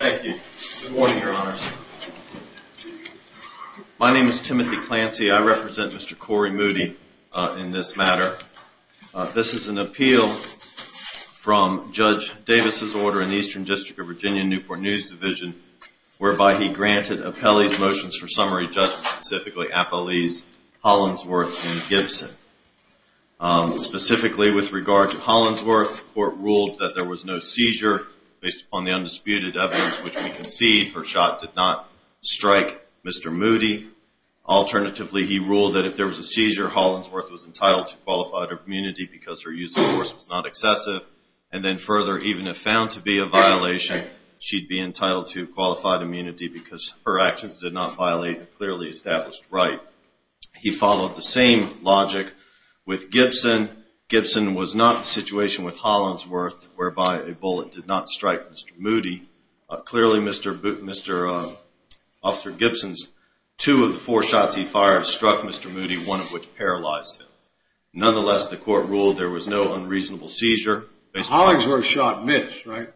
Thank you. Good morning, Your Honors. My name is Timothy Clancy. I represent Mr. Corey Moody in this matter. This is an appeal from Judge Davis's order in the Eastern District of Virginia, Newport News Division, whereby he granted Apelli's motions for summary judgment, specifically Apelli's, Hollandsworth, and Gibson. Specifically with regard to Hollandsworth, the court ruled that there was no seizure based upon the undisputed evidence, which we concede her shot did not strike Mr. Moody. Alternatively, he ruled that if there was a seizure, Hollandsworth was entitled to qualified immunity because her use of force was not excessive. And then further, even if found to be a violation, she'd be entitled to qualified immunity because her actions did not violate a clearly established right. He followed the same logic with Gibson. Gibson was not in a situation with Hollandsworth whereby a bullet did not strike Mr. Moody. Clearly, Mr. Gibson's two of the four shots he fired struck Mr. Moody, one of which paralyzed him. Nonetheless, the court ruled there was no unreasonable seizure. Hollandsworth shot, missed, right?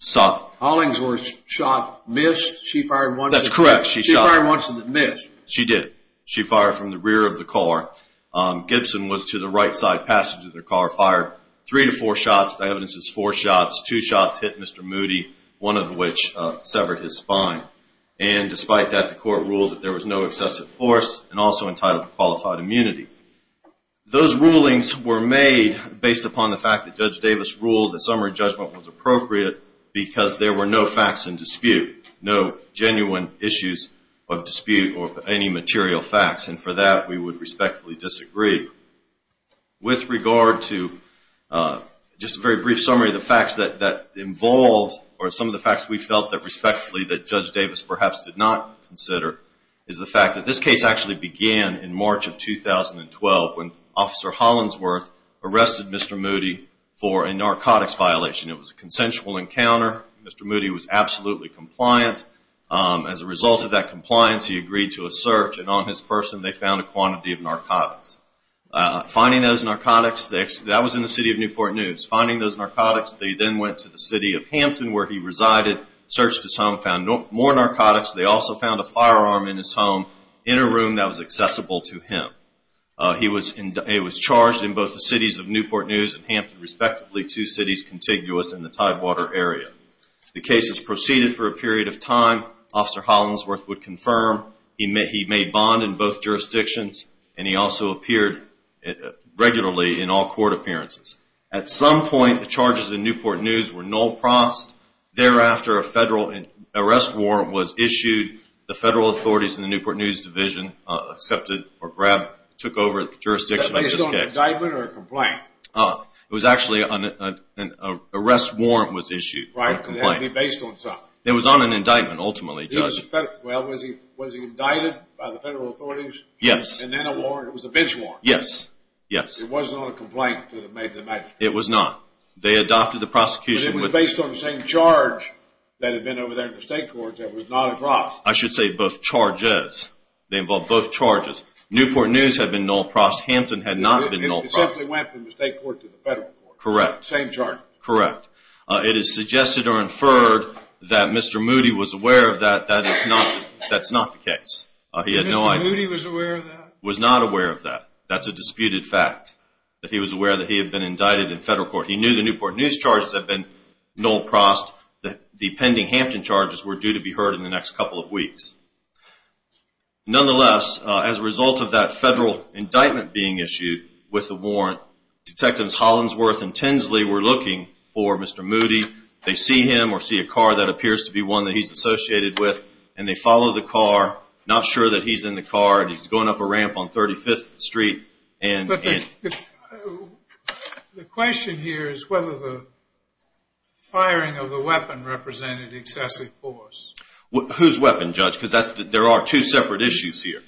Shot. Hollandsworth shot, missed. She fired once in the miss. She did. She fired from the rear of the car. Gibson was to the right side passage of the car, fired three to four shots. The evidence is four shots. Two shots hit Mr. Moody, one of which severed his spine. And despite that, the court ruled that there was no excessive force and also entitled to qualified immunity. Those rulings were made based upon the fact that Judge Davis ruled that summary judgment was appropriate because there were no facts in dispute, no genuine issues of dispute or any material facts. And for that, we would respectfully disagree. With regard to just a very brief summary of the facts that involved or some of the facts we felt that respectfully that Judge Davis perhaps did not consider is the fact that this case actually began in March of 2012 when Officer Hollandsworth arrested Mr. Moody for a narcotics violation. It was a consensual encounter. Mr. Moody was absolutely compliant. As a result of that compliance, he agreed to a search. And on his person, they found a quantity of narcotics. Finding those narcotics, that was in the city of Newport News. Finding those narcotics, they then went to the city of Hampton where he resided, searched his home, found more narcotics. They also found a firearm in his home in a room that was accessible to him. He was charged in both the cities of Newport News and Hampton, respectively, two cities contiguous in the Tidewater area. The cases proceeded for a period of time. Officer Hollandsworth would confirm. He made bond in both jurisdictions. And he also appeared regularly in all court appearances. At some point, the charges in Newport News were null prost. Thereafter, a federal arrest warrant was issued. The federal authorities in the Newport News Division accepted or grabbed, took over the jurisdiction. Was it an indictment or a complaint? It was actually an arrest warrant was issued. Right, but it had to be based on something. It was on an indictment, ultimately, Judge. Well, was he indicted by the federal authorities? Yes. And then a warrant, it was a bench warrant. Yes, yes. It wasn't on a complaint to the magnitude. It was not. They adopted the prosecution. But it was based on the same charge that had been over there in the state court that was not across. I should say both charges. They involved both charges. Newport News had been null prost. Hampton had not been null prost. It simply went from the state court to the federal court. Correct. Same charge. Correct. It is suggested or inferred that Mr. Moody was aware of that. That's not the case. Mr. Moody was aware of that? Was not aware of that. That's a disputed fact, that he was aware that he had been indicted in federal court. He knew the Newport News charges had been null prost. The pending Hampton charges were due to be heard in the next couple of weeks. Nonetheless, as a result of that federal indictment being issued with the warrant, Detectives Hollingsworth and Tinsley were looking for Mr. Moody. They see him or see a car that appears to be one that he's associated with, and they follow the car, not sure that he's in the car, and he's going up a ramp on 35th Street. The question here is whether the firing of the weapon represented excessive force. Whose weapon, Judge? Because there are two separate issues here.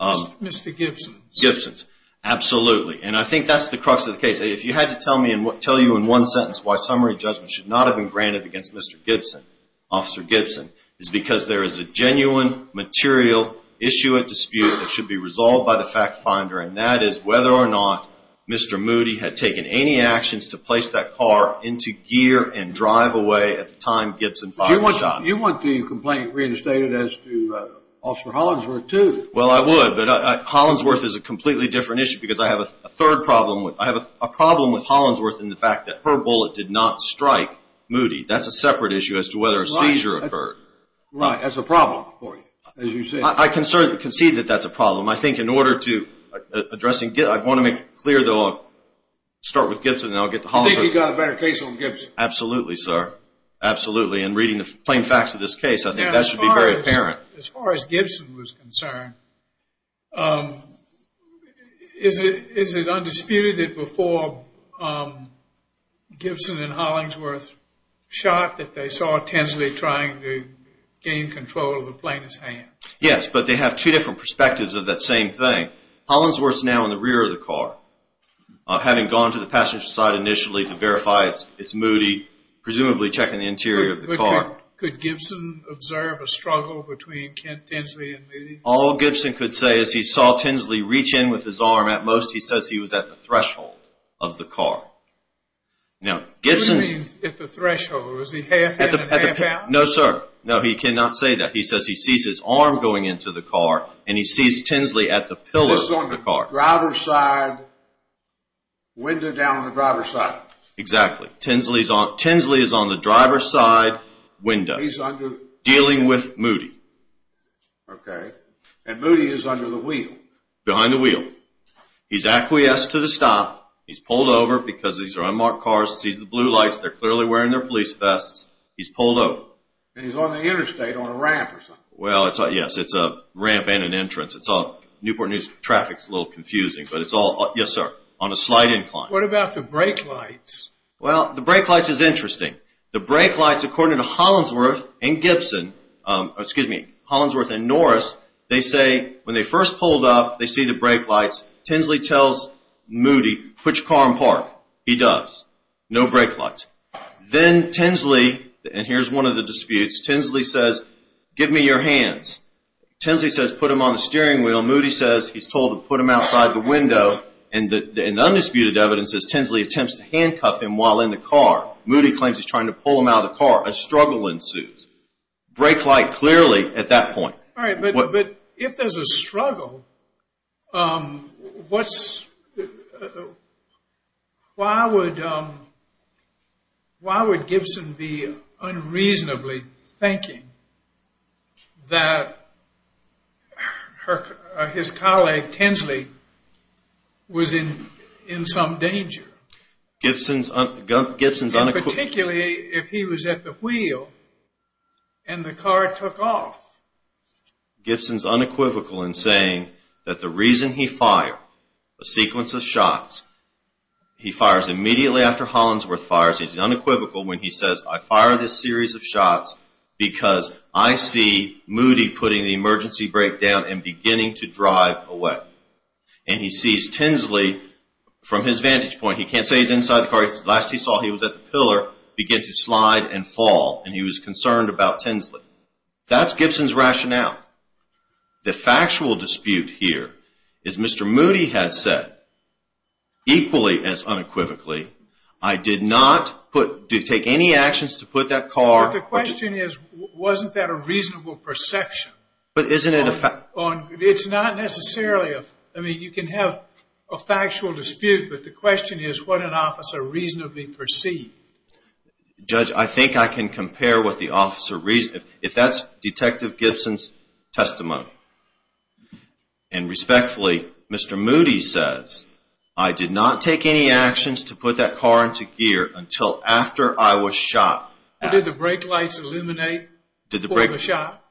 Mr. Gibson's. Gibson's. Absolutely. And I think that's the crux of the case. If you had to tell me in one sentence why summary judgment should not have been granted against Mr. Gibson, Officer Gibson, is because there is a genuine material issue at dispute that should be resolved by the fact finder, and that is whether or not Mr. Moody had taken any actions to place that car into gear and drive away at the time Gibson fired the shot. You want the complaint reinstated as to Officer Hollingsworth, too. Well, I would, but Hollingsworth is a completely different issue because I have a third problem. I have a problem with Hollingsworth in the fact that her bullet did not strike Moody. That's a separate issue as to whether a seizure occurred. Right. That's a problem for you, as you say. I concede that that's a problem. I think in order to address it, I want to make it clear that I'll start with Gibson and then I'll get to Hollingsworth. You think you've got a better case on Gibson? Absolutely, sir. Absolutely. And reading the plain facts of this case, I think that should be very apparent. As far as Gibson was concerned, is it undisputed that before Gibson and Hollingsworth shot that they saw Tinsley trying to gain control of the plaintiff's hand? Yes, but they have two different perspectives of that same thing. Hollingsworth's now in the rear of the car. Having gone to the passenger side initially to verify it's Moody, presumably checking the interior of the car. Could Gibson observe a struggle between Tinsley and Moody? All Gibson could say is he saw Tinsley reach in with his arm. At most, he says he was at the threshold of the car. Now, Gibson's… What do you mean at the threshold? Was he half in and half out? No, sir. No, he cannot say that. He says he sees his arm going into the car and he sees Tinsley at the pillar of the car. He was on the driver's side window down on the driver's side. Exactly. Tinsley is on the driver's side window dealing with Moody. Okay. And Moody is under the wheel. Behind the wheel. He's acquiesced to the stop. He's pulled over because these are unmarked cars. He sees the blue lights. They're clearly wearing their police vests. He's pulled over. And he's on the interstate on a ramp or something. Well, yes. It's a ramp and an entrance. Newport News traffic is a little confusing. But it's all… Yes, sir. On a slight incline. What about the brake lights? Well, the brake lights is interesting. The brake lights, according to Hollinsworth and Gibson… Excuse me. Hollinsworth and Norris, they say when they first pulled up, they see the brake lights. Tinsley tells Moody, put your car in park. He does. No brake lights. Then Tinsley… And here's one of the disputes. Tinsley says, give me your hands. Tinsley says, put them on the steering wheel. Moody says, he's told to put them outside the window. And the undisputed evidence is Tinsley attempts to handcuff him while in the car. Moody claims he's trying to pull him out of the car. Brake light clearly at that point. All right. But if there's a struggle, why would Gibson be unreasonably thinking that his colleague Tinsley was in some danger? Gibson's unequipped… Particularly if he was at the wheel and the car took off. Gibson's unequivocal in saying that the reason he fired a sequence of shots… He fires immediately after Hollinsworth fires. He's unequivocal when he says, I fired this series of shots because I see Moody putting the emergency brake down and beginning to drive away. And he sees Tinsley from his vantage point. He can't say he's inside the car. The last he saw, he was at the pillar, began to slide and fall. And he was concerned about Tinsley. That's Gibson's rationale. The factual dispute here is Mr. Moody has said, equally as unequivocally, I did not take any actions to put that car… But the question is, wasn't that a reasonable perception? But isn't it a fact… It's not necessarily… I mean, you can have a factual dispute, but the question is what an officer reasonably perceived. Judge, I think I can compare what the officer… If that's Detective Gibson's testimony. And respectfully, Mr. Moody says, I did not take any actions to put that car into gear until after I was shot. Did the brake lights illuminate before the shot?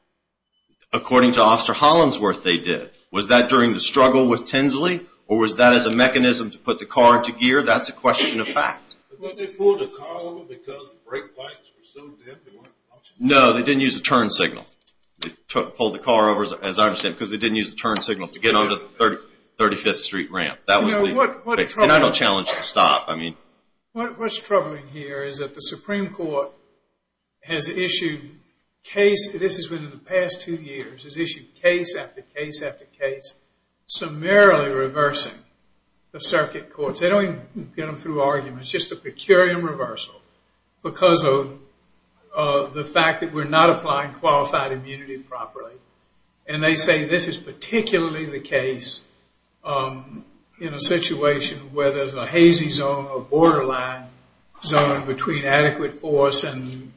According to Officer Hollingsworth, they did. Was that during the struggle with Tinsley? Or was that as a mechanism to put the car into gear? That's a question of fact. But they pulled the car over because the brake lights were so dim they weren't… No, they didn't use the turn signal. They pulled the car over, as I understand, because they didn't use the turn signal to get onto the 35th Street ramp. And I don't challenge the stop. What's troubling here is that the Supreme Court has issued case… This has been in the past two years. It's issued case after case after case, summarily reversing the circuit courts. They don't even get them through arguments. It's just a per curiam reversal because of the fact that we're not applying qualified immunity properly. And they say this is particularly the case in a situation where there's a hazy zone, a borderline zone, between adequate force and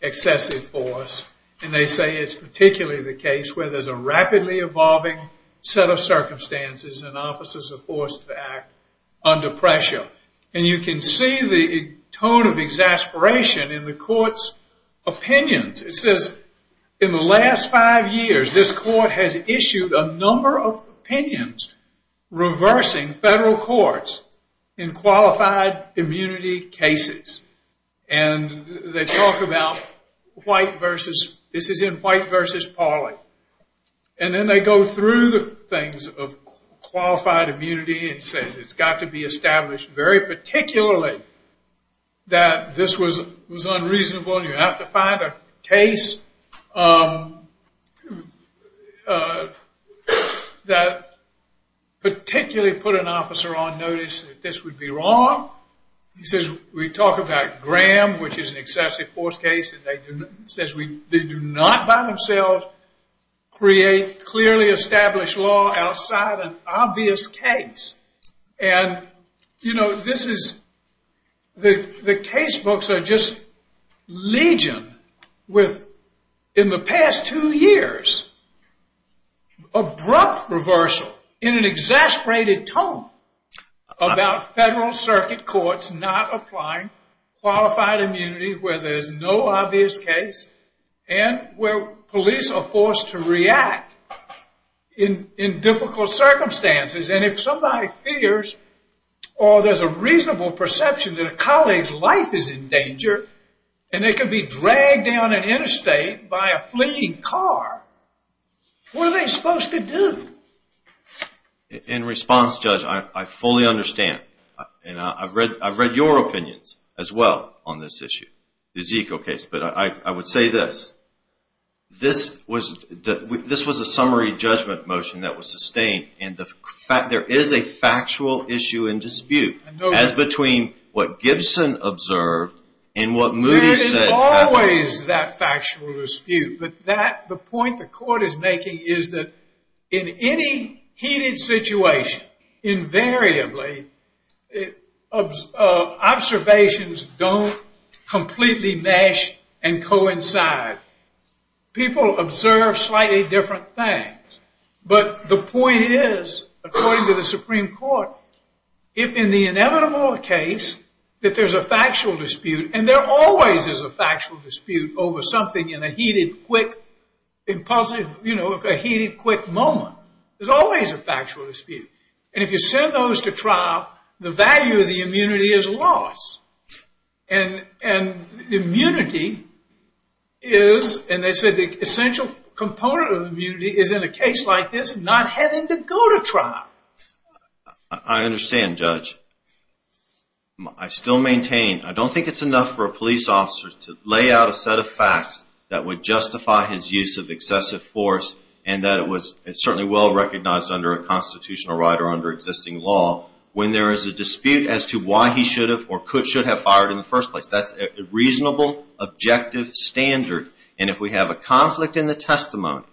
excessive force. And they say it's particularly the case where there's a rapidly evolving set of circumstances and officers are forced to act under pressure. And you can see the tone of exasperation in the court's opinions. It says, in the last five years, this court has issued a number of opinions reversing federal courts in qualified immunity cases. And they talk about white versus… This is in white versus parley. And then they go through the things of qualified immunity and says it's got to be established very particularly that this was unreasonable and you have to find a case that particularly put an officer on notice that this would be wrong. He says we talk about Graham, which is an excessive force case, and they do not by themselves create clearly established law outside an obvious case. And, you know, this is… The case books are just legion with, in the past two years, abrupt reversal in an exasperated tone about federal circuit courts not applying qualified immunity where there's no obvious case and where police are forced to react in difficult circumstances. And if somebody fears or there's a reasonable perception that a colleague's life is in danger and they can be dragged down an interstate by a fleeing car, what are they supposed to do? In response, Judge, I fully understand. And I've read your opinions as well on this issue, this eco case. But I would say this. This was a summary judgment motion that was sustained. And there is a factual issue and dispute as between what Gibson observed and what Moody said happened. There is always that factual dispute. But the point the court is making is that in any heated situation, invariably, observations don't completely mesh and coincide. People observe slightly different things. But the point is, according to the Supreme Court, if in the inevitable case that there's a factual dispute, and there always is a factual dispute over something in a heated, quick moment, there's always a factual dispute. And if you send those to trial, the value of the immunity is lost. And the immunity is, and they said the essential component of immunity, is in a case like this not having to go to trial. I understand, Judge. I still maintain I don't think it's enough for a police officer to lay out a set of facts that would justify his use of excessive force and that it was certainly well recognized under a constitutional right or under existing law when there is a dispute as to why he should have or should have fired in the first place. That's a reasonable, objective standard. And if we have a conflict in the testimony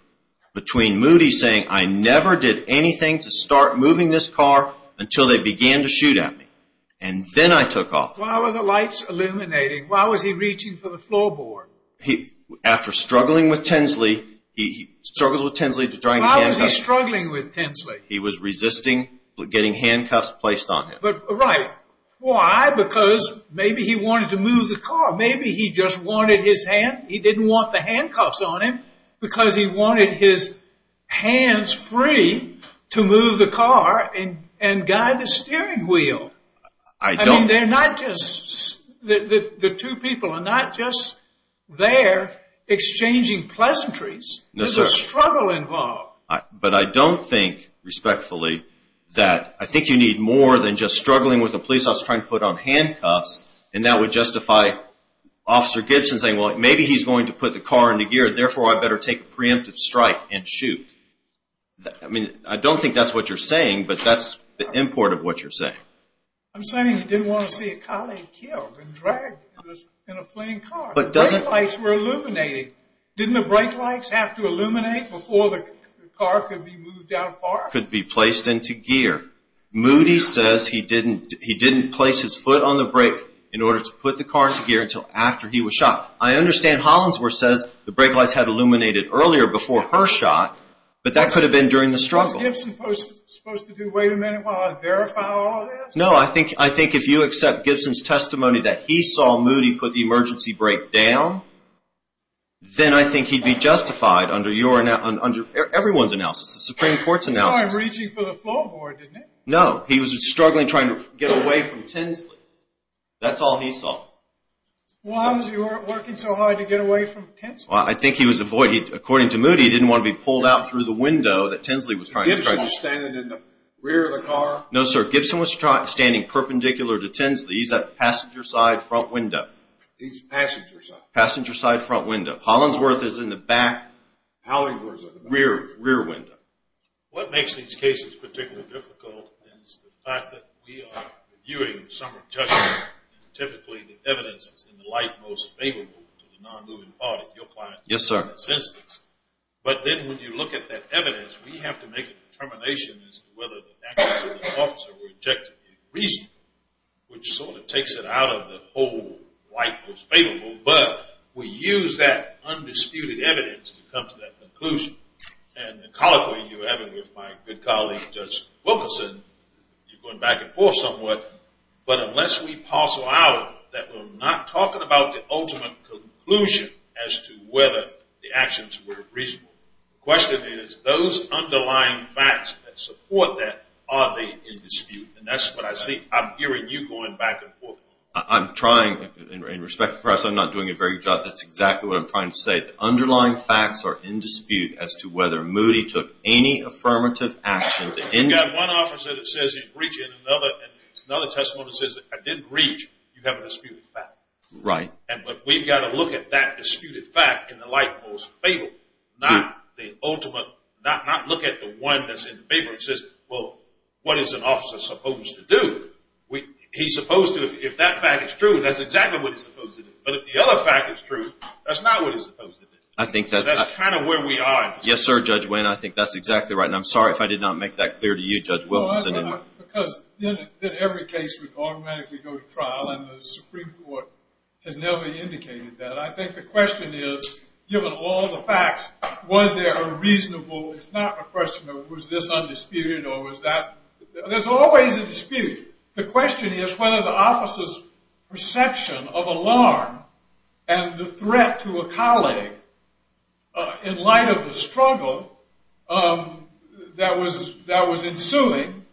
between Moody saying, I never did anything to start moving this car until they began to shoot at me, and then I took off. Why were the lights illuminating? Why was he reaching for the floorboard? After struggling with Tinsley, he struggled with Tinsley to try and handcuff him. Why was he struggling with Tinsley? He was resisting getting handcuffs placed on him. Right. Why? Because maybe he wanted to move the car. Maybe he just wanted his hand, he didn't want the handcuffs on him because he wanted his hands free to move the car and guide the steering wheel. They're not just, the two people are not just there exchanging pleasantries. There's a struggle involved. But I don't think respectfully that, I think you need more than just struggling with a police officer trying to put on handcuffs and that would justify Officer Gibson saying, well, maybe he's going to put the car into gear, therefore I better take a preemptive strike and shoot. I mean, I don't think that's what you're saying, but that's the import of what you're saying. I'm saying he didn't want to see a colleague killed and dragged in a fleeing car. The brake lights were illuminating. Didn't the brake lights have to illuminate before the car could be moved out far? Could be placed into gear. Moody says he didn't place his foot on the brake in order to put the car into gear until after he was shot. I understand Hollinsworth says the brake lights had illuminated earlier before her shot, but that could have been during the struggle. Was Gibson supposed to do, wait a minute while I verify all this? No, I think if you accept Gibson's testimony that he saw Moody put the emergency brake down, then I think he'd be justified under everyone's analysis, the Supreme Court's analysis. He saw him reaching for the floorboard, didn't he? No, he was struggling trying to get away from Tinsley. That's all he saw. Why was he working so hard to get away from Tinsley? I think he was avoiding, according to Moody, he didn't want to be pulled out through the window that Tinsley was trying to strike. Was Gibson standing in the rear of the car? No, sir, Gibson was standing perpendicular to Tinsley. He's at the passenger side front window. He's passenger side. Passenger side front window. Hollinsworth is in the back. Hollinsworth is in the back. Rear, rear window. What makes these cases particularly difficult is the fact that we are reviewing some of the judgment. Typically, the evidence is in the light most favorable to the non-moving party. Your client is in that instance. But then when you look at that evidence, we have to make a determination as to whether the actions of the officer were objectively reasonable, which sort of takes it out of the whole light most favorable. But we use that undisputed evidence to come to that conclusion. And the colloquy you're having with my good colleague, Judge Wilkinson, you're going back and forth somewhat. But unless we parcel out that we're not talking about the ultimate conclusion as to whether the actions were reasonable, the question is those underlying facts that support that, are they in dispute? And that's what I see. I'm hearing you going back and forth. I'm trying. In respect to the press, I'm not doing a very good job. That's exactly what I'm trying to say. The underlying facts are in dispute as to whether Moody took any affirmative action. You've got one officer that says he's breaching another. It's another testimony that says I didn't breach. You have a disputed fact. Right. But we've got to look at that disputed fact in the light most favorable, not the ultimate, not look at the one that's in favor. It says, well, what is an officer supposed to do? He's supposed to, if that fact is true, that's exactly what he's supposed to do. But if the other fact is true, that's not what he's supposed to do. That's kind of where we are. Yes, sir, Judge Winn. I think that's exactly right. And I'm sorry if I did not make that clear to you, Judge Wilkinson. Because every case would automatically go to trial, and the Supreme Court has never indicated that. I think the question is, given all the facts, was there a reasonable, it's not a question of was this undisputed or was that. There's always a dispute. The question is whether the officer's perception of alarm and the threat to a that was ensuing,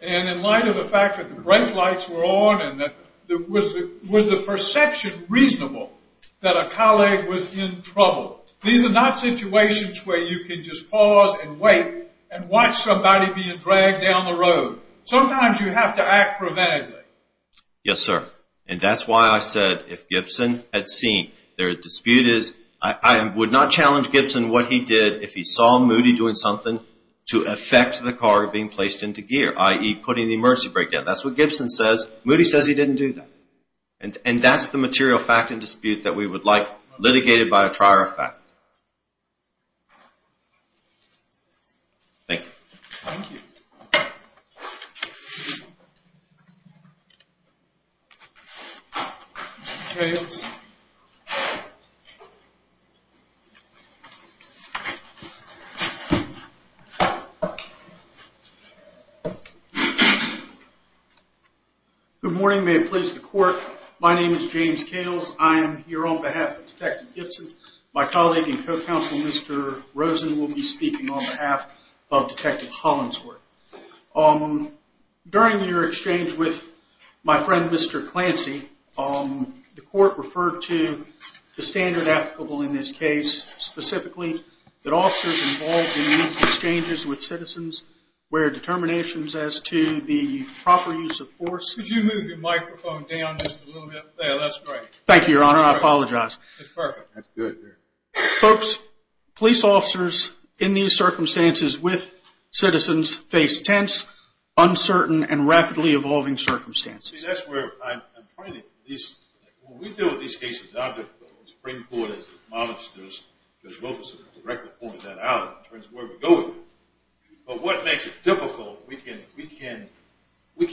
and in light of the fact that the brake lights were on and was the perception reasonable that a colleague was in trouble. These are not situations where you can just pause and wait and watch somebody being dragged down the road. Sometimes you have to act preventively. Yes, sir. And that's why I said if Gibson had seen, their dispute is, I would not challenge Gibson what he did. If he saw Moody doing something to affect the car being placed into gear, i.e., putting the emergency brake down. That's what Gibson says. Moody says he didn't do that. And that's the material fact and dispute that we would like litigated by a trier of fact. Thank you. Thank you. Mr. Kales. Good morning. May it please the court. My name is James Kales. I am here on behalf of Detective Gibson. My colleague and co-counsel, Mr. Rosen, will be speaking on behalf of Detective Hollingsworth. During your exchange with my friend, Mr. Clancy, the court referred to the standard applicable in this case, specifically that officers involved in these exchanges with citizens wear determinations as to the proper use of force. Could you move your microphone down just a little bit? There. That's great. Thank you, Your Honor. I apologize. That's perfect. That's good. Folks, police officers in these circumstances with citizens face tense, uncertain, and rapidly evolving circumstances. See, that's where I'm finding these. When we deal with these cases, our Supreme Court has acknowledged this, because Wilkerson has directly pointed that out in terms of where we go with it. But what makes it difficult, we can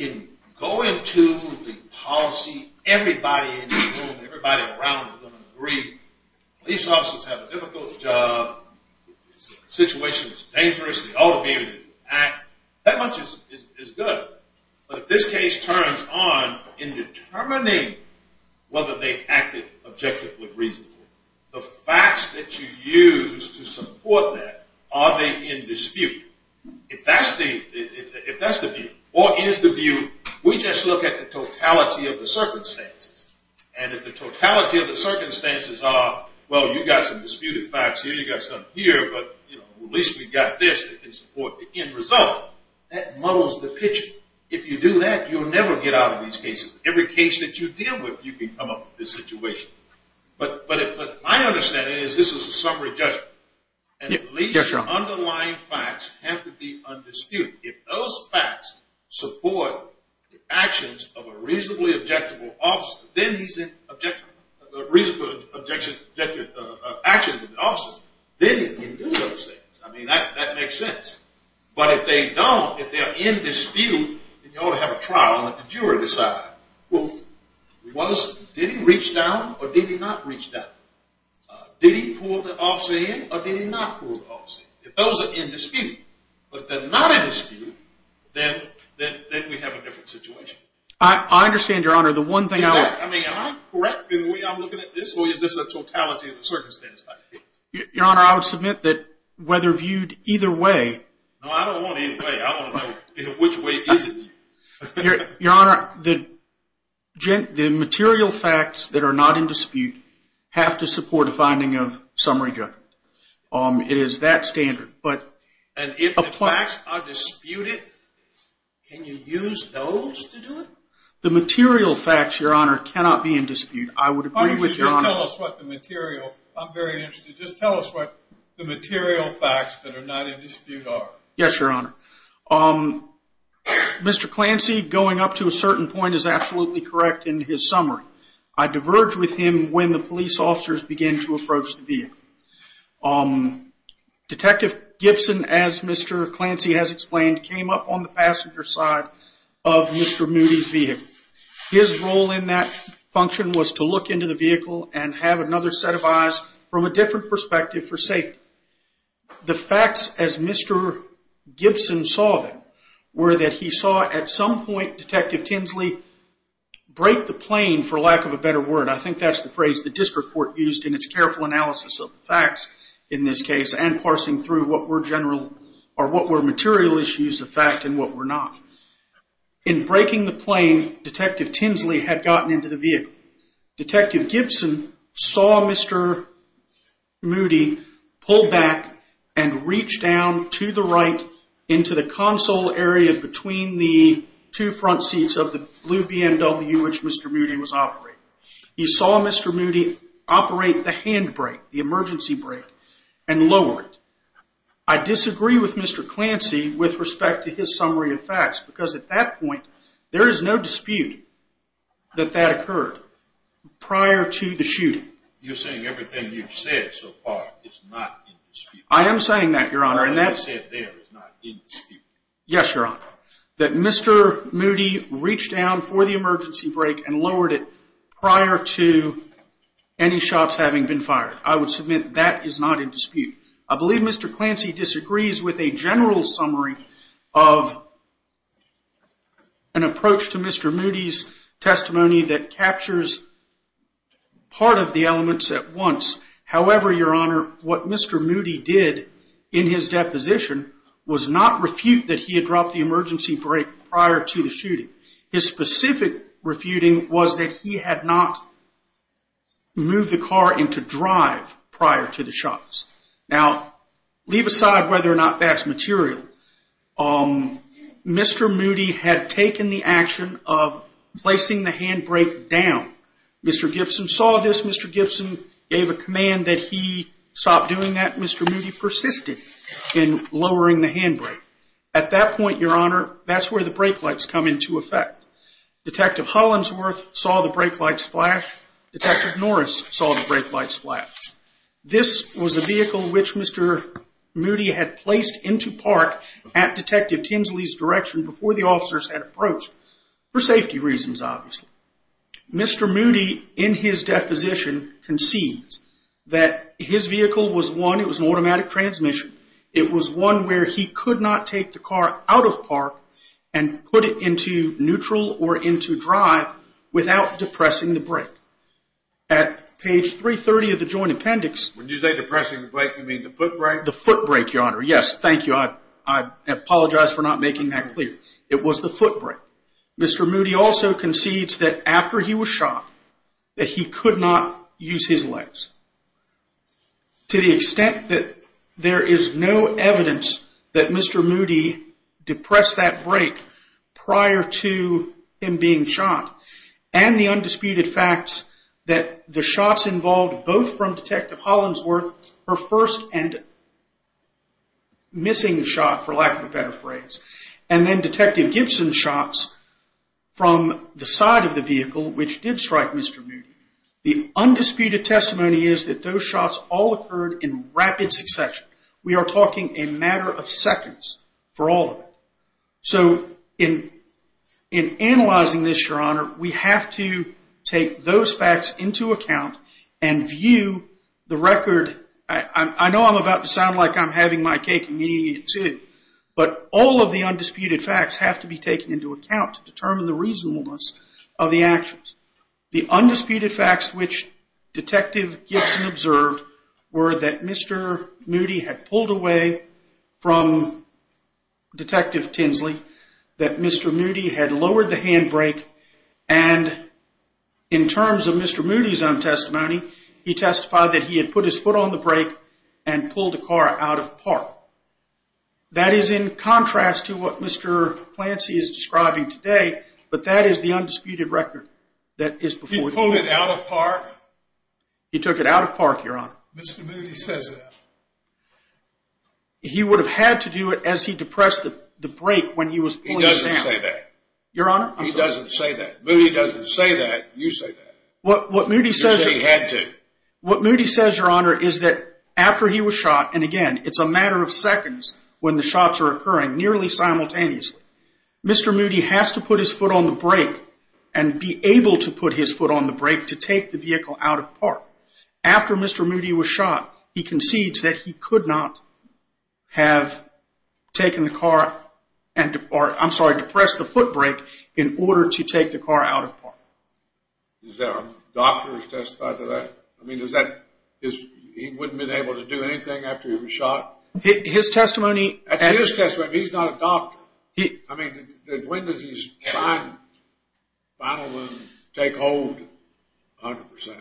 go into the policy, everybody in the room, everybody around is going to agree, police officers have a difficult job, the situation is dangerous, they ought to be able to act, that much is good. But if this case turns on in determining whether they acted objectively reasonably, the facts that you use to support that, are they in dispute? If that's the view, or is the view, we just look at the totality of the circumstances. And if the totality of the circumstances are, well, you've got some disputed facts here, you've got some here, but at least we've got this that can support the end result, that muddles the picture. If you do that, you'll never get out of these cases. Every case that you deal with, you can come up with this situation. But my understanding is this is a summary judgment. And at least the underlying facts have to be undisputed. If those facts support the actions of a reasonably objective officer, then he's in objection to the actions of the officers, then he can do those things. I mean, that makes sense. But if they don't, if they're in dispute, then you ought to have a trial and let the jury decide. Well, did he reach down, or did he not reach down? Did he pull the officer in, or did he not pull the officer in? If those are in dispute, but if they're not in dispute, then we have a different situation. I understand, Your Honor. The one thing I would – Exactly. I mean, am I correct in the way I'm looking at this, or is this a totality of the circumstances type of case? Your Honor, I would submit that whether viewed either way – No, I don't want either way. I want to know which way is it. Your Honor, the material facts that are not in dispute have to support a finding of summary judgment. It is that standard. And if the facts are disputed, can you use those to do it? The material facts, Your Honor, cannot be in dispute. I would agree with Your Honor. Just tell us what the material – I'm very interested. Just tell us what the material facts that are not in dispute are. Yes, Your Honor. Mr. Clancy, going up to a certain point, is absolutely correct in his summary. I diverge with him when the police officers begin to approach the vehicle. Detective Gibson, as Mr. Clancy has explained, came up on the passenger side of Mr. Moody's vehicle. His role in that function was to look into the vehicle and have another set of eyes from a different perspective for safety. The facts, as Mr. Gibson saw them, were that he saw at some point Detective Tinsley break the plane, for lack of a better word. I think that's the phrase the district court used in its careful analysis of the facts in this case and parsing through what were material issues of fact and what were not. In breaking the plane, Detective Tinsley had gotten into the vehicle. Detective Gibson saw Mr. Moody pull back and reach down to the right area between the two front seats of the blue BMW which Mr. Moody was operating. He saw Mr. Moody operate the handbrake, the emergency brake, and lower it. I disagree with Mr. Clancy with respect to his summary of facts because at that point there is no dispute that that occurred prior to the shooting. You're saying everything you've said so far is not in dispute. I am saying that, Your Honor. Everything you've said there is not in dispute. Yes, Your Honor. That Mr. Moody reached down for the emergency brake and lowered it prior to any shots having been fired. I would submit that is not in dispute. I believe Mr. Clancy disagrees with a general summary of an approach to Mr. Moody's testimony that captures part of the elements at once. However, Your Honor, what Mr. Moody did in his deposition was not refute that he had dropped the emergency brake prior to the shooting. His specific refuting was that he had not moved the car into drive prior to the shots. Now, leave aside whether or not that's material. Mr. Moody had taken the action of placing the handbrake down. Mr. Gibson saw this. Mr. Gibson gave a command that he stop doing that. Mr. Moody persisted in lowering the handbrake. At that point, Your Honor, that's where the brake lights come into effect. Detective Hollinsworth saw the brake lights flash. Detective Norris saw the brake lights flash. This was a vehicle which Mr. Moody had placed into park at Detective Tinsley's direction before the officers had approached for safety reasons, obviously. Mr. Moody, in his deposition, concedes that his vehicle was one. It was an automatic transmission. It was one where he could not take the car out of park and put it into neutral or into drive without depressing the brake. At page 330 of the joint appendix... When you say depressing the brake, you mean the foot brake? The foot brake, Your Honor. Yes, thank you. I apologize for not making that clear. It was the foot brake. Mr. Moody also concedes that after he was shot, that he could not use his legs. To the extent that there is no evidence that Mr. Moody depressed that brake prior to him being shot, and the undisputed facts that the shots involved, both from Detective Hollinsworth, her first and missing shot, for lack of a better phrase, and then Detective Gibson's shots from the side of the vehicle, which did strike Mr. Moody, the undisputed testimony is that those shots all occurred in rapid succession. We are talking a matter of seconds for all of it. So in analyzing this, Your Honor, we have to take those facts into account and view the record. I know I'm about to sound like I'm having my cake and eating it too, but all of the undisputed facts have to be taken into account to determine the reasonableness of the actions. The undisputed facts which Detective Gibson observed were that Mr. Moody had pulled away from Detective Tinsley, that Mr. Moody had lowered the handbrake, and in terms of Mr. Moody's own testimony, he testified that he had put his foot on the brake and pulled the car out of park. That is in contrast to what Mr. Clancy is describing today, but that is the undisputed record that is before you. He pulled it out of park? He took it out of park, Your Honor. Mr. Moody says that. He would have had to do it as he depressed the brake when he was pulling it down. He doesn't say that. Your Honor? He doesn't say that. Moody doesn't say that. You say that. What Moody says... You say he had to. What Moody says, Your Honor, is that after he was shot, and again, it's a matter of seconds when the shots are occurring, nearly simultaneously, Mr. Moody has to put his foot on the brake and be able to put his foot on the brake to take the vehicle out of park. After Mr. Moody was shot, he concedes that he could not have taken the car and, I'm sorry, depressed the foot brake in order to take the car out of park. Is there a doctor who's testified to that? I mean, does that... He wouldn't have been able to do anything after he was shot? His testimony... That's his testimony. He's not a doctor. I mean, when does his spinal wound take hold 100%?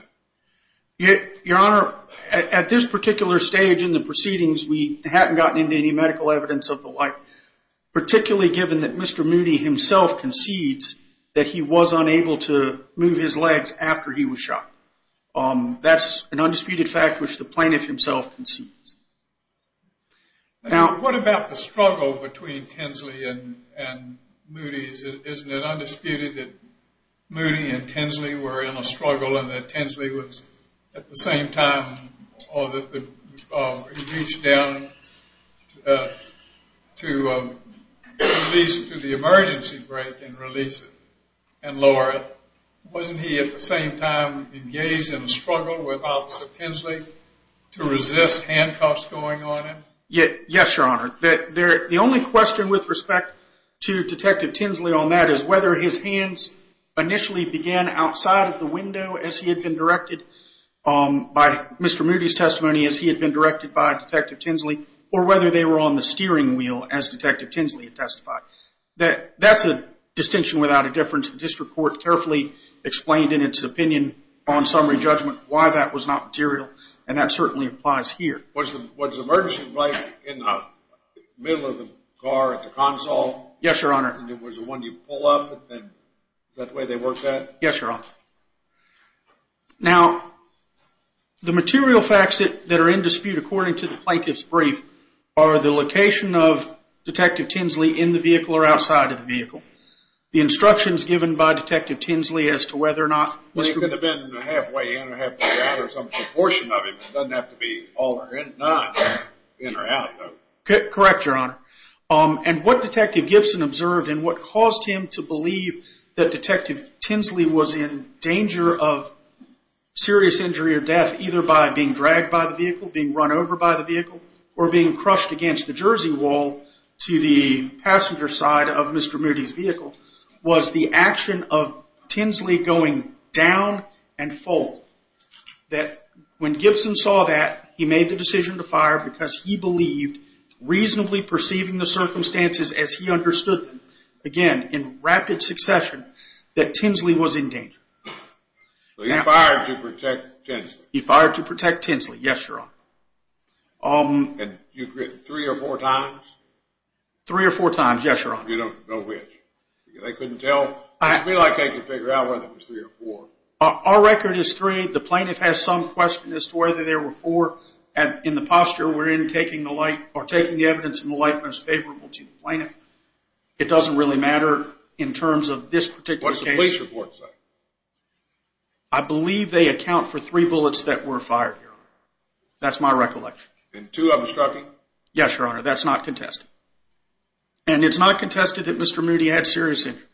Your Honor, at this particular stage in the proceedings, we hadn't gotten into any medical evidence of the like, particularly given that Mr. Moody himself concedes that he was unable to move his legs after he was shot. That's an undisputed fact which the plaintiff himself concedes. Now, what about the struggle between Tinsley and Moody? Isn't it undisputed that Moody and Tinsley were in a struggle and that Tinsley was, at the same time, he reached down to the emergency brake and release it and lower it. Wasn't he, at the same time, engaged in a struggle with Officer Tinsley to resist handcuffs going on him? Yes, Your Honor. The only question with respect to Detective Tinsley on that is whether his hands initially began outside of the window, as he had been directed by Mr. Moody's testimony, as he had been directed by Detective Tinsley, or whether they were on the steering wheel, as Detective Tinsley testified. That's a distinction without a difference. The district court carefully explained in its opinion on summary judgment why that was not material, and that certainly applies here. Was the emergency brake in the middle of the car at the console? Yes, Your Honor. And it was the one you pull up? Is that the way they worked that? Yes, Your Honor. Now, the material facts that are in dispute, according to the plaintiff's brief, are the location of Detective Tinsley in the vehicle or outside of the vehicle, the instructions given by Detective Tinsley as to whether or not Mr. Moody… Well, he could have been halfway in or halfway out or some proportion of him. It doesn't have to be all or none, in or out, though. Correct, Your Honor. And what Detective Gibson observed and what caused him to believe that Detective Tinsley was in danger of serious injury or death, either by being dragged by the vehicle, being run over by the vehicle, or being crushed against the jersey wall to the passenger side of Mr. Moody's vehicle, was the action of Tinsley going down and full. because he believed, reasonably perceiving the circumstances as he understood them, again, in rapid succession, that Tinsley was in danger. So he fired to protect Tinsley? He fired to protect Tinsley, yes, Your Honor. And you've written three or four times? Three or four times, yes, Your Honor. You don't know which? They couldn't tell? It would be like they could figure out whether it was three or four. Our record is three. I believe the plaintiff has some question as to whether there were four. In the posture we're in, taking the evidence in the light most favorable to the plaintiff, it doesn't really matter in terms of this particular case. What's the police report say? I believe they account for three bullets that were fired, Your Honor. That's my recollection. And two of them struck him? Yes, Your Honor. That's not contested. And it's not contested that Mr. Moody had serious injuries.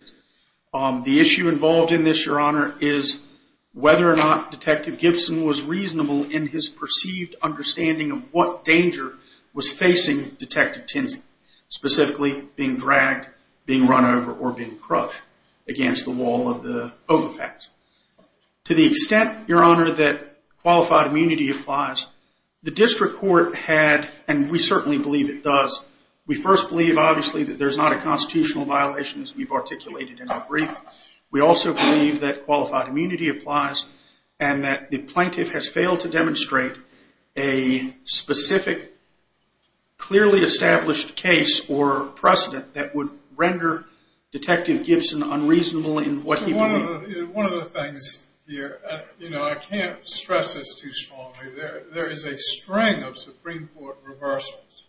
The issue involved in this, Your Honor, is whether or not Detective Gibson was reasonable in his perceived understanding of what danger was facing Detective Tinsley, specifically being dragged, being run over, or being crushed against the wall of the Oval Office. To the extent, Your Honor, that qualified immunity applies, the district court had, and we certainly believe it does, we first believe, obviously, that there's not a constitutional violation, as we've articulated in our brief. We also believe that qualified immunity applies and that the plaintiff has failed to demonstrate a specific, clearly established case or precedent that would render Detective Gibson unreasonable in what he believed. One of the things here, you know, I can't stress this too strongly. There is a string of Supreme Court reversals.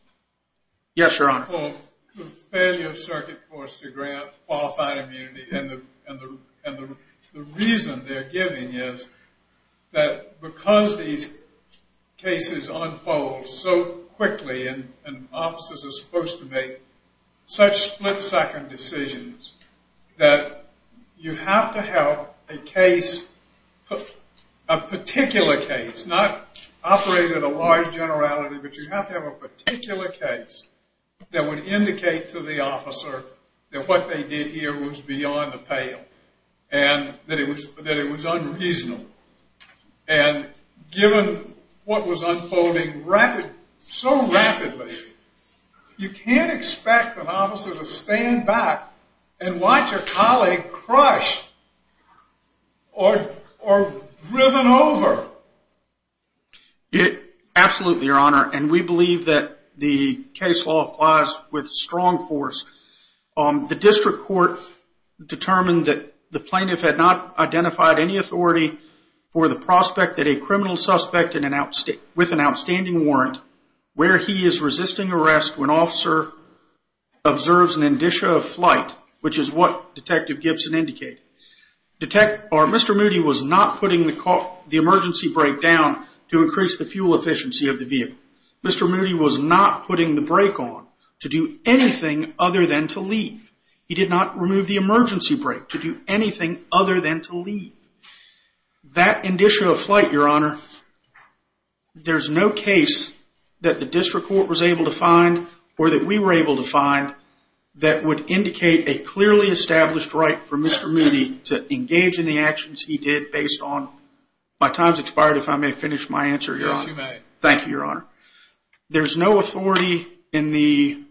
Yes, Your Honor. The so-called failure of circuit courts to grant qualified immunity. And the reason they're giving is that because these cases unfold so quickly and offices are supposed to make such split-second decisions that you have to have a case, a particular case, not operating at a large generality, but you have to have a particular case that would indicate to the officer that what they did here was beyond the pale and that it was unreasonable. And given what was unfolding so rapidly, you can't expect an officer to stand back and watch a colleague crushed or driven over. Absolutely, Your Honor. And we believe that the case law applies with strong force. The district court determined that the plaintiff had not identified any authority for the prospect that a criminal suspect with an outstanding warrant, where he is resisting arrest when officer observes an indicia of flight, which is what Detective Gibson indicated. Mr. Moody was not putting the emergency brake down to increase the fuel efficiency of the vehicle. Mr. Moody was not putting the brake on to do anything other than to leave. He did not remove the emergency brake to do anything other than to leave. That indicia of flight, Your Honor, there's no case that the district court was able to find or that we were able to find that would indicate a clearly established right for Mr. Moody to engage in the actions he did based on, my time's expired if I may finish my answer, Your Honor. Yes, you may. Thank you, Your Honor. There's no authority in the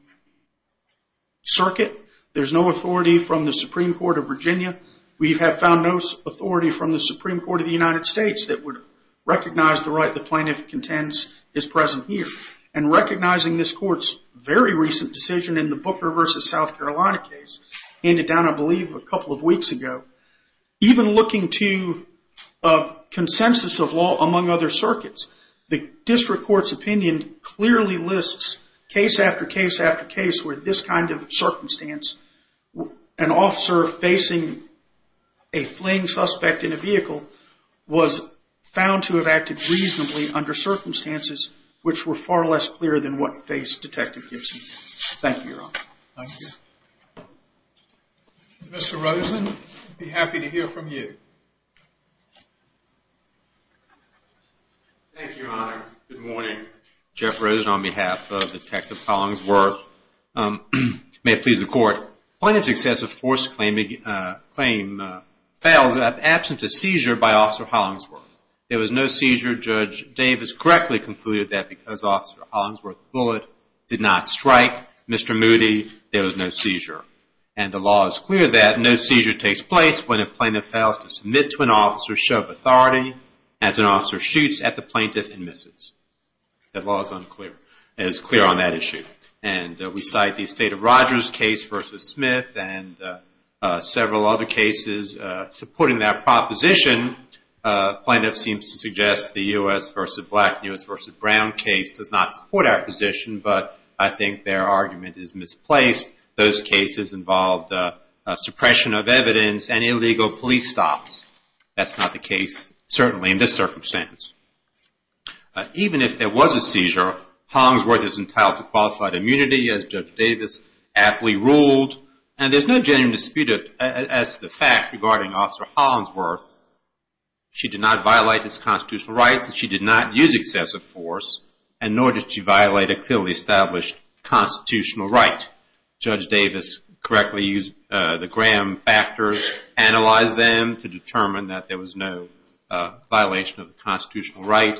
circuit. There's no authority from the Supreme Court of Virginia. We have found no authority from the Supreme Court of the United States that would recognize the right the plaintiff contends is present here. And recognizing this court's very recent decision in the Booker versus South Carolina case, handed down, I believe, a couple of weeks ago, even looking to consensus of law among other circuits, the district court's opinion clearly lists case after case after case where this kind of circumstance, an officer facing a fleeing suspect in a vehicle was found to have acted reasonably under circumstances which were far less clear than what faced Detective Gibson. Thank you, Your Honor. Thank you. Mr. Rosen, we'd be happy to hear from you. Thank you, Your Honor. Good morning. Jeff Rosen on behalf of Detective Hollingsworth. May it please the court. Plaintiff's excessive force claim fails absent a seizure by Officer Hollingsworth. There was no seizure. Judge Davis correctly concluded that because Officer Hollingsworth's bullet did not strike Mr. Moody, there was no seizure. And the law is clear that no seizure takes place when a plaintiff fails to submit to an officer's show of authority as an officer shoots at the plaintiff and misses. That law is unclear. It is clear on that issue. And we cite the Estate of Rogers case versus Smith and several other cases supporting that proposition. Plaintiff seems to suggest the U.S. versus Black, U.S. versus Brown case does not support our position, but I think their argument is misplaced. Those cases involved suppression of evidence and illegal police stops. That's not the case, certainly, in this circumstance. Even if there was a seizure, Hollingsworth is entitled to qualified immunity, as Judge Davis aptly ruled. And there's no genuine dispute as to the facts regarding Officer Hollingsworth. She did not violate his constitutional rights, and she did not use excessive force, and nor did she violate a clearly established constitutional right. Judge Davis correctly used the Graham factors, analyzed them to determine that there was no violation of the constitutional right.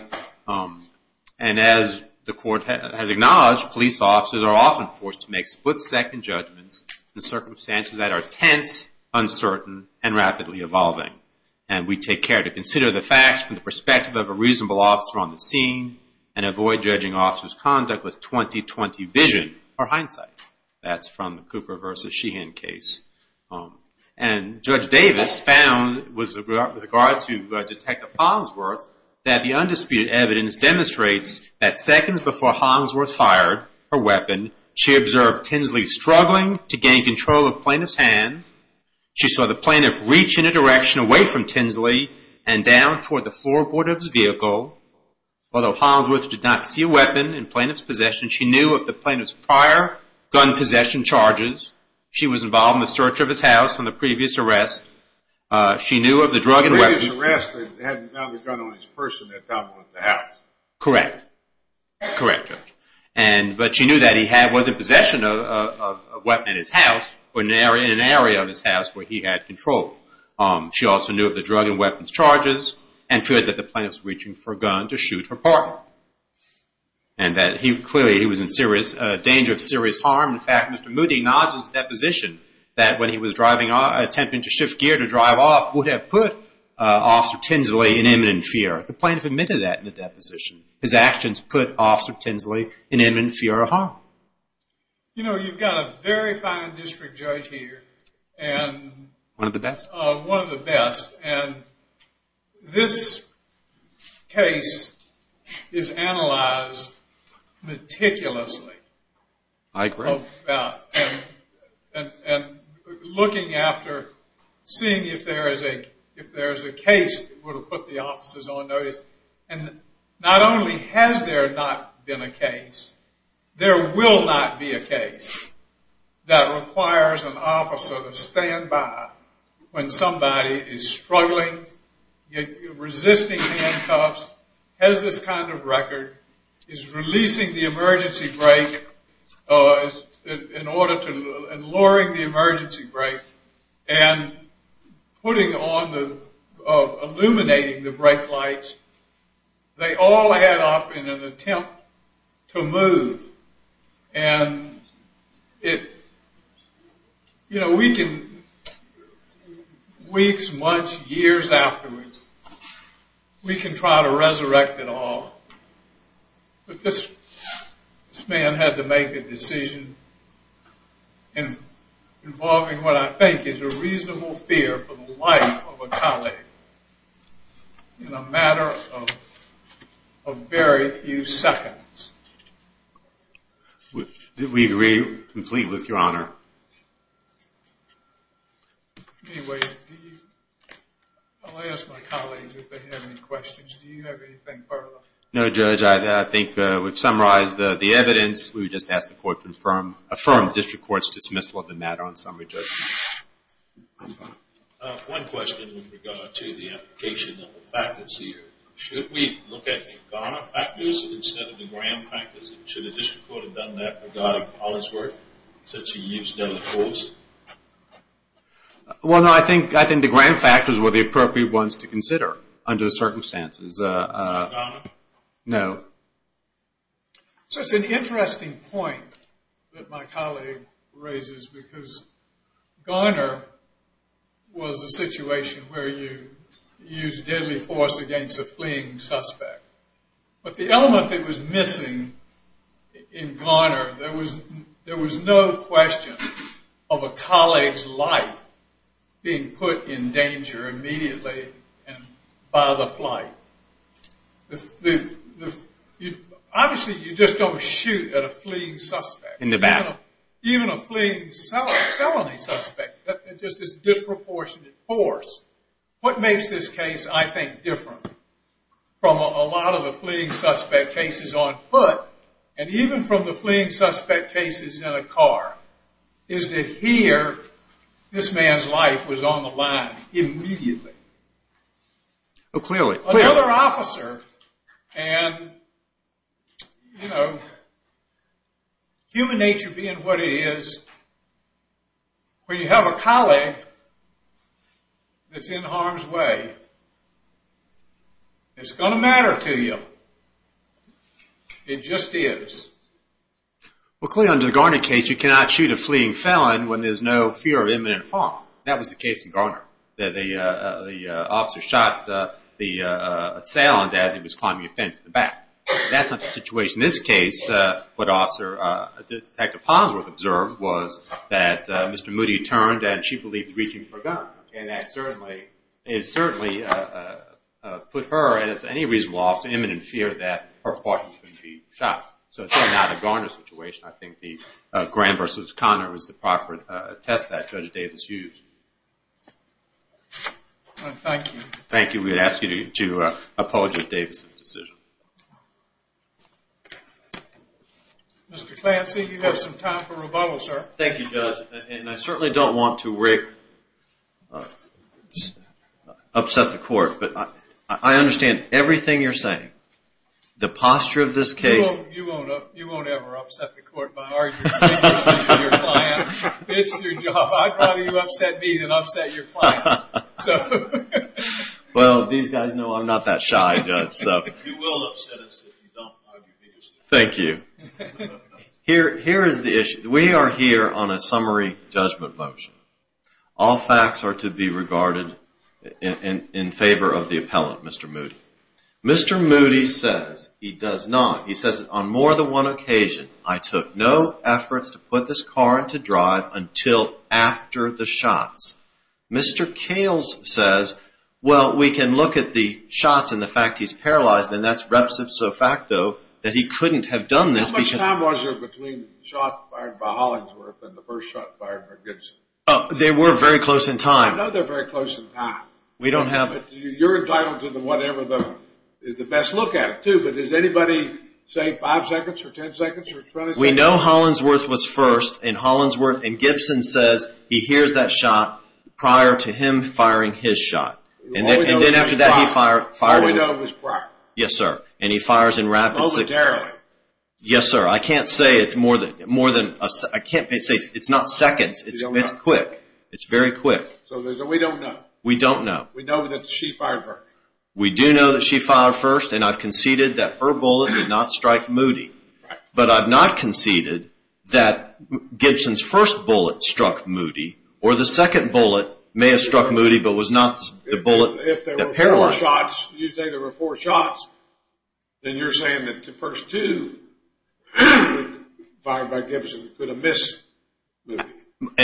And as the Court has acknowledged, police officers are often forced to make split-second judgments in circumstances that are tense, uncertain, and rapidly evolving. And we take care to consider the facts from the perspective of a reasonable officer on the scene and avoid judging officers' conduct with 20-20 vision or hindsight. That's from the Cooper versus Sheehan case. And Judge Davis found, with regard to Detective Hollingsworth, that the undisputed evidence demonstrates that seconds before Hollingsworth fired her weapon, she observed Tinsley struggling to gain control of Plaintiff's hand. She saw the Plaintiff reach in a direction away from Tinsley and down toward the floorboard of his vehicle. Although Hollingsworth did not see a weapon in Plaintiff's possession, she knew of the Plaintiff's prior gun possession charges. She was involved in the search of his house from the previous arrest. She knew of the drug and weapons... The previous arrest had another gun on his person at the top of the house. Correct. Correct, Judge. But she knew that he was in possession of a weapon in his house or in an area of his house where he had control. She also knew of the drug and weapons charges and feared that the Plaintiff was reaching for a gun to shoot her partner. And that clearly he was in danger of serious harm. In fact, Mr. Moody acknowledges in the deposition that when he was attempting to shift gear to drive off, would have put Officer Tinsley in imminent fear. The Plaintiff admitted that in the deposition. His actions put Officer Tinsley in imminent fear of harm. You know, you've got a very fine district judge here. One of the best. One of the best. And this case is analyzed meticulously. I agree. And looking after, seeing if there is a case that would have put the officers on notice. And not only has there not been a case, there will not be a case that requires an officer to stand by when somebody is struggling, resisting handcuffs, has this kind of record, is releasing the emergency brake, in order to, and lowering the emergency brake and putting on the, illuminating the brake lights, they all add up in an attempt to move. And it, you know, we can, weeks, months, years afterwards, we can try to resurrect it all. But this man had to make a decision involving what I think is a reasonable fear for the life of a colleague in a matter of very few seconds. We agree completely with Your Honor. Anyway, I'll ask my colleagues if they have any questions. Do you have anything further? No, Judge. I think we've summarized the evidence. We would just ask the court to affirm the district court's dismissal of the matter on summary judgment. One question with regard to the application of the factors here. Should we look at the Ghana factors instead of the Graham factors? And should the district court have done that since he used deadly force? Well, no, I think the Graham factors were the appropriate ones to consider under the circumstances. Ghana? No. So it's an interesting point that my colleague raises, because Ghana was a situation where you used deadly force against a fleeing suspect. But the element that was missing in Ghana, there was no question of a colleague's life being put in danger immediately by the flight. Obviously, you just don't shoot at a fleeing suspect. In the battle. Even a fleeing felony suspect, just as disproportionate force. What makes this case, I think, different from a lot of the fleeing suspect cases on foot, and even from the fleeing suspect cases in a car, is that here, this man's life was on the line immediately. Oh, clearly. Another officer. And, you know, human nature being what it is, when you have a colleague that's in harm's way, it's going to matter to you. It just is. Well, clearly under the Garner case, you cannot shoot a fleeing felon when there's no fear of imminent harm. That was the case in Garner. The officer shot the assailant as he was climbing a fence in the back. That's not the situation in this case. What Detective Ponsworth observed was that Mr. Moody turned, and she believed he was reaching for a gun. And that certainly put her, as any reasonable officer, in imminent fear that her partner could be shot. So it's really not a Garner situation. I think the Graham v. Conner was the proper test that Judge Davis used. Thank you. Thank you. We would ask you to apologize for Davis's decision. Mr. Clancy, you have some time for rebuttal, sir. Thank you, Judge. And I certainly don't want to upset the court, but I understand everything you're saying. The posture of this case. You won't ever upset the court by arguing. This is your job. I'd rather you upset me than upset your client. Well, these guys know I'm not that shy, Judge. You will upset us if you don't argue vigorously. Thank you. Here is the issue. We are here on a summary judgment motion. All facts are to be regarded in favor of the appellant, Mr. Moody. Mr. Moody says he does not. He says, On more than one occasion, I took no efforts to put this car into drive until after the shots. Mr. Kales says, Well, we can look at the shots and the fact he's paralyzed, and that's repso facto that he couldn't have done this. How much time was there between the shot fired by Hollingsworth and the first shot fired by Gibson? They were very close in time. I know they're very close in time. You're entitled to whatever the best look at it, too, but does anybody say five seconds or ten seconds or twenty seconds? We know Hollingsworth was first, and Gibson says he hears that shot prior to him firing his shot, and then after that he fired it. We know it was prior. Yes, sir, and he fires in rapid succession. Momentarily. Yes, sir. I can't say it's more than a second. It's not seconds. It's quick. It's very quick. So we don't know. We don't know. We know that she fired first. We do know that she fired first, and I've conceded that her bullet did not strike Moody, but I've not conceded that Gibson's first bullet struck Moody or the second bullet may have struck Moody but was not the bullet that paralyzed him. If there were four shots, you say there were four shots, then you're saying that the first two fired by Gibson could have missed Moody.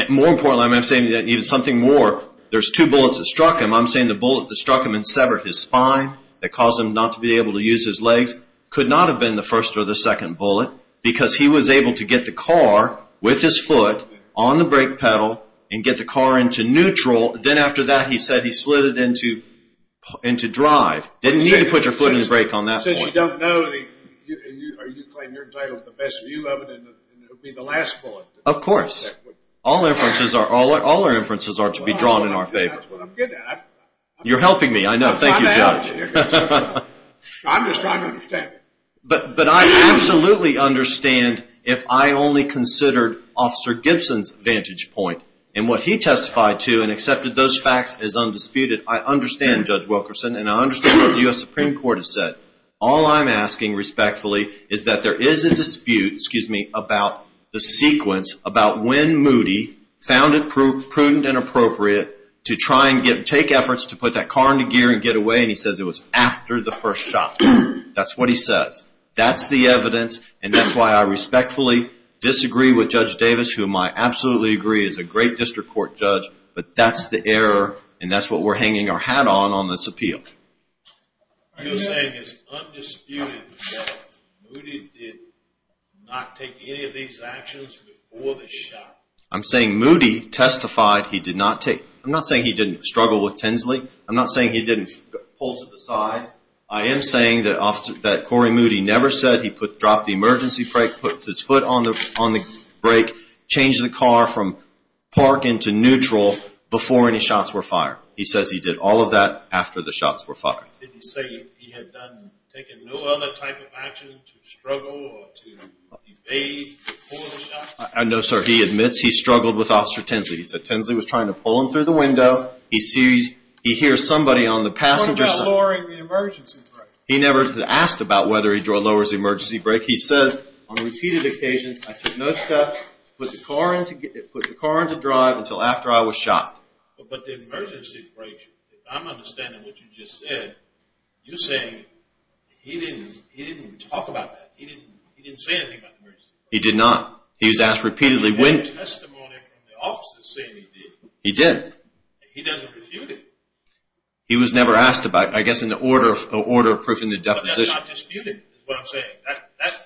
More importantly, I'm not saying that needed something more. There's two bullets that struck him. I'm saying the bullet that struck him and severed his spine that caused him not to be able to use his legs could not have been the first or the second bullet because he was able to get the car with his foot on the brake pedal and get the car into neutral. Then after that, he said he slid it into drive. Didn't need to put your foot in the brake on that point. Since you don't know, you claim you're entitled to the best view of it and it would be the last bullet. Of course. All our inferences are to be drawn in our favor. That's what I'm good at. You're helping me. I know. Thank you, Judge. I'm just trying to understand. But I absolutely understand if I only considered Officer Gibson's vantage point and what he testified to and accepted those facts as undisputed. I understand, Judge Wilkerson, and I understand what the U.S. Supreme Court has said. All I'm asking respectfully is that there is a dispute about the sequence about when Moody found it prudent and appropriate to try and take efforts to put that car into gear and get away and he says it was after the first shot. That's what he says. That's the evidence, and that's why I respectfully disagree with Judge Davis, whom I absolutely agree is a great district court judge, but that's the error and that's what we're hanging our hat on on this appeal. Are you saying it's undisputed that Moody did not take any of these actions before the shot? I'm saying Moody testified he did not take. I'm not saying he didn't struggle with Tinsley. I'm not saying he didn't pull to the side. I am saying that Corey Moody never said he dropped the emergency brake, put his foot on the brake, changed the car from park into neutral before any shots were fired. He says he did all of that after the shots were fired. Did he say he had taken no other type of action to struggle or to debate before the shots? No, sir. He admits he struggled with Officer Tinsley. He said Tinsley was trying to pull him through the window. He hears somebody on the passenger side. He never asked about whether he lowers the emergency brake. He says on repeated occasions, I took no steps to put the car into drive until after I was shot. But the emergency brake, if I'm understanding what you just said, you're saying he didn't talk about that. He didn't say anything about the emergency brake. He did not. He was asked repeatedly when. I heard testimony from the officers saying he did. He did. He doesn't refute it. He was never asked about it. I guess in the order of proofing the deposition. But that's not disputed is what I'm saying.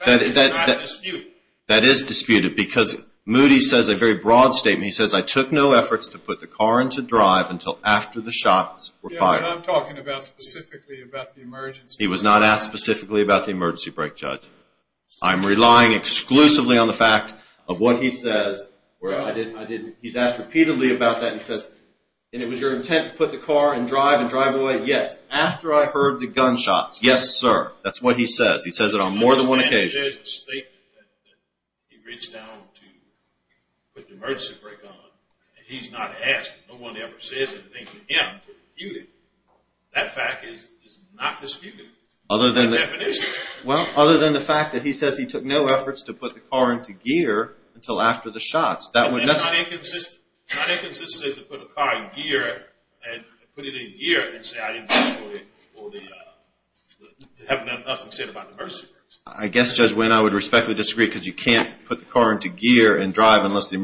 That is not disputed. That is disputed because Moody says a very broad statement. He says I took no efforts to put the car into drive until after the shots were fired. Yeah, but I'm talking specifically about the emergency brake. He was not asked specifically about the emergency brake, Judge. I'm relying exclusively on the fact of what he says. He's asked repeatedly about that and he says, and it was your intent to put the car in drive and drive away? Yes. After I heard the gunshots. Yes, sir. That's what he says. He says it on more than one occasion. There's a statement that he reached out to put the emergency brake on, and he's not asked. No one ever says anything to him to refute it. That fact is not disputed. Other than the. Deposition. Well, other than the fact that he says he took no efforts to put the car into gear until after the shots. That would. Not inconsistent. Not inconsistent to put the car in gear and put it in gear and say I didn't do it for the having nothing said about the emergency brakes. I guess, Judge Winn, I would respectfully disagree because you can't put the car into gear and drive unless the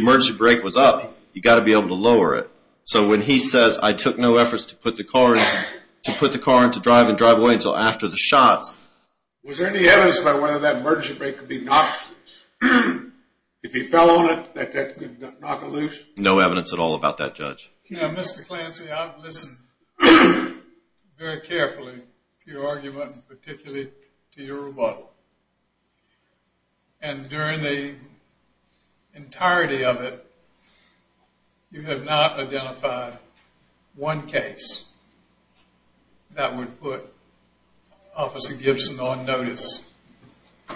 emergency brake was up. You've got to be able to lower it. So when he says I took no efforts to put the car into drive and drive away until after the shots. Was there any evidence about whether that emergency brake could be knocked loose? If he fell on it, that that could knock it loose? No evidence at all about that, Judge. Now, Mr. Clancy, I've listened very carefully to your argument, particularly to your rebuttal. And during the entirety of it, you have not identified one case that would put Officer Gibson on notice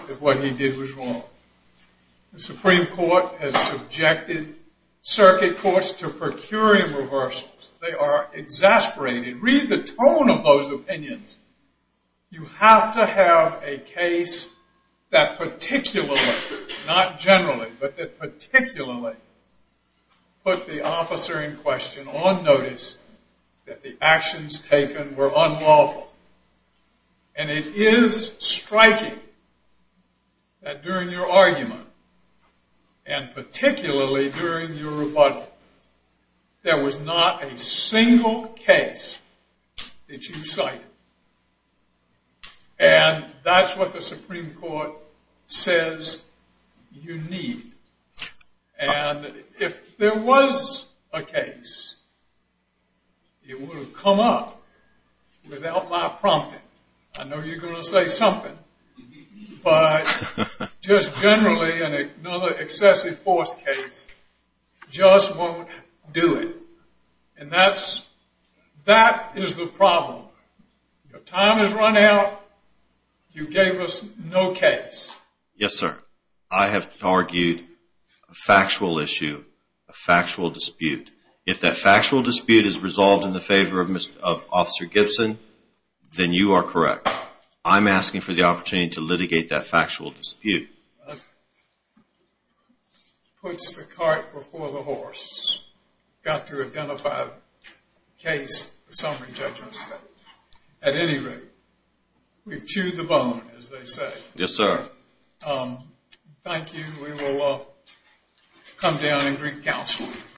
if what he did was wrong. The Supreme Court has subjected circuit courts to per curiam reversals. They are exasperated. Read the tone of those opinions. You have to have a case that particularly, not generally, but that particularly put the officer in question on notice that the actions taken were unlawful. And it is striking that during your argument, and particularly during your rebuttal, there was not a single case that you cited. And that's what the Supreme Court says you need. And if there was a case, it would have come up without my prompting. I know you're going to say something, but just generally another excessive force case just won't do it. And that is the problem. Your time has run out. You gave us no case. Yes, sir. I have argued a factual issue, a factual dispute. If that factual dispute is resolved in the favor of Officer Gibson, then you are correct. I'm asking for the opportunity to litigate that factual dispute. Puts the cart before the horse. You've got to identify a case for summary judgment. At any rate, we've chewed the bone, as they say. Yes, sir. Thank you. We will come down and greet counsel.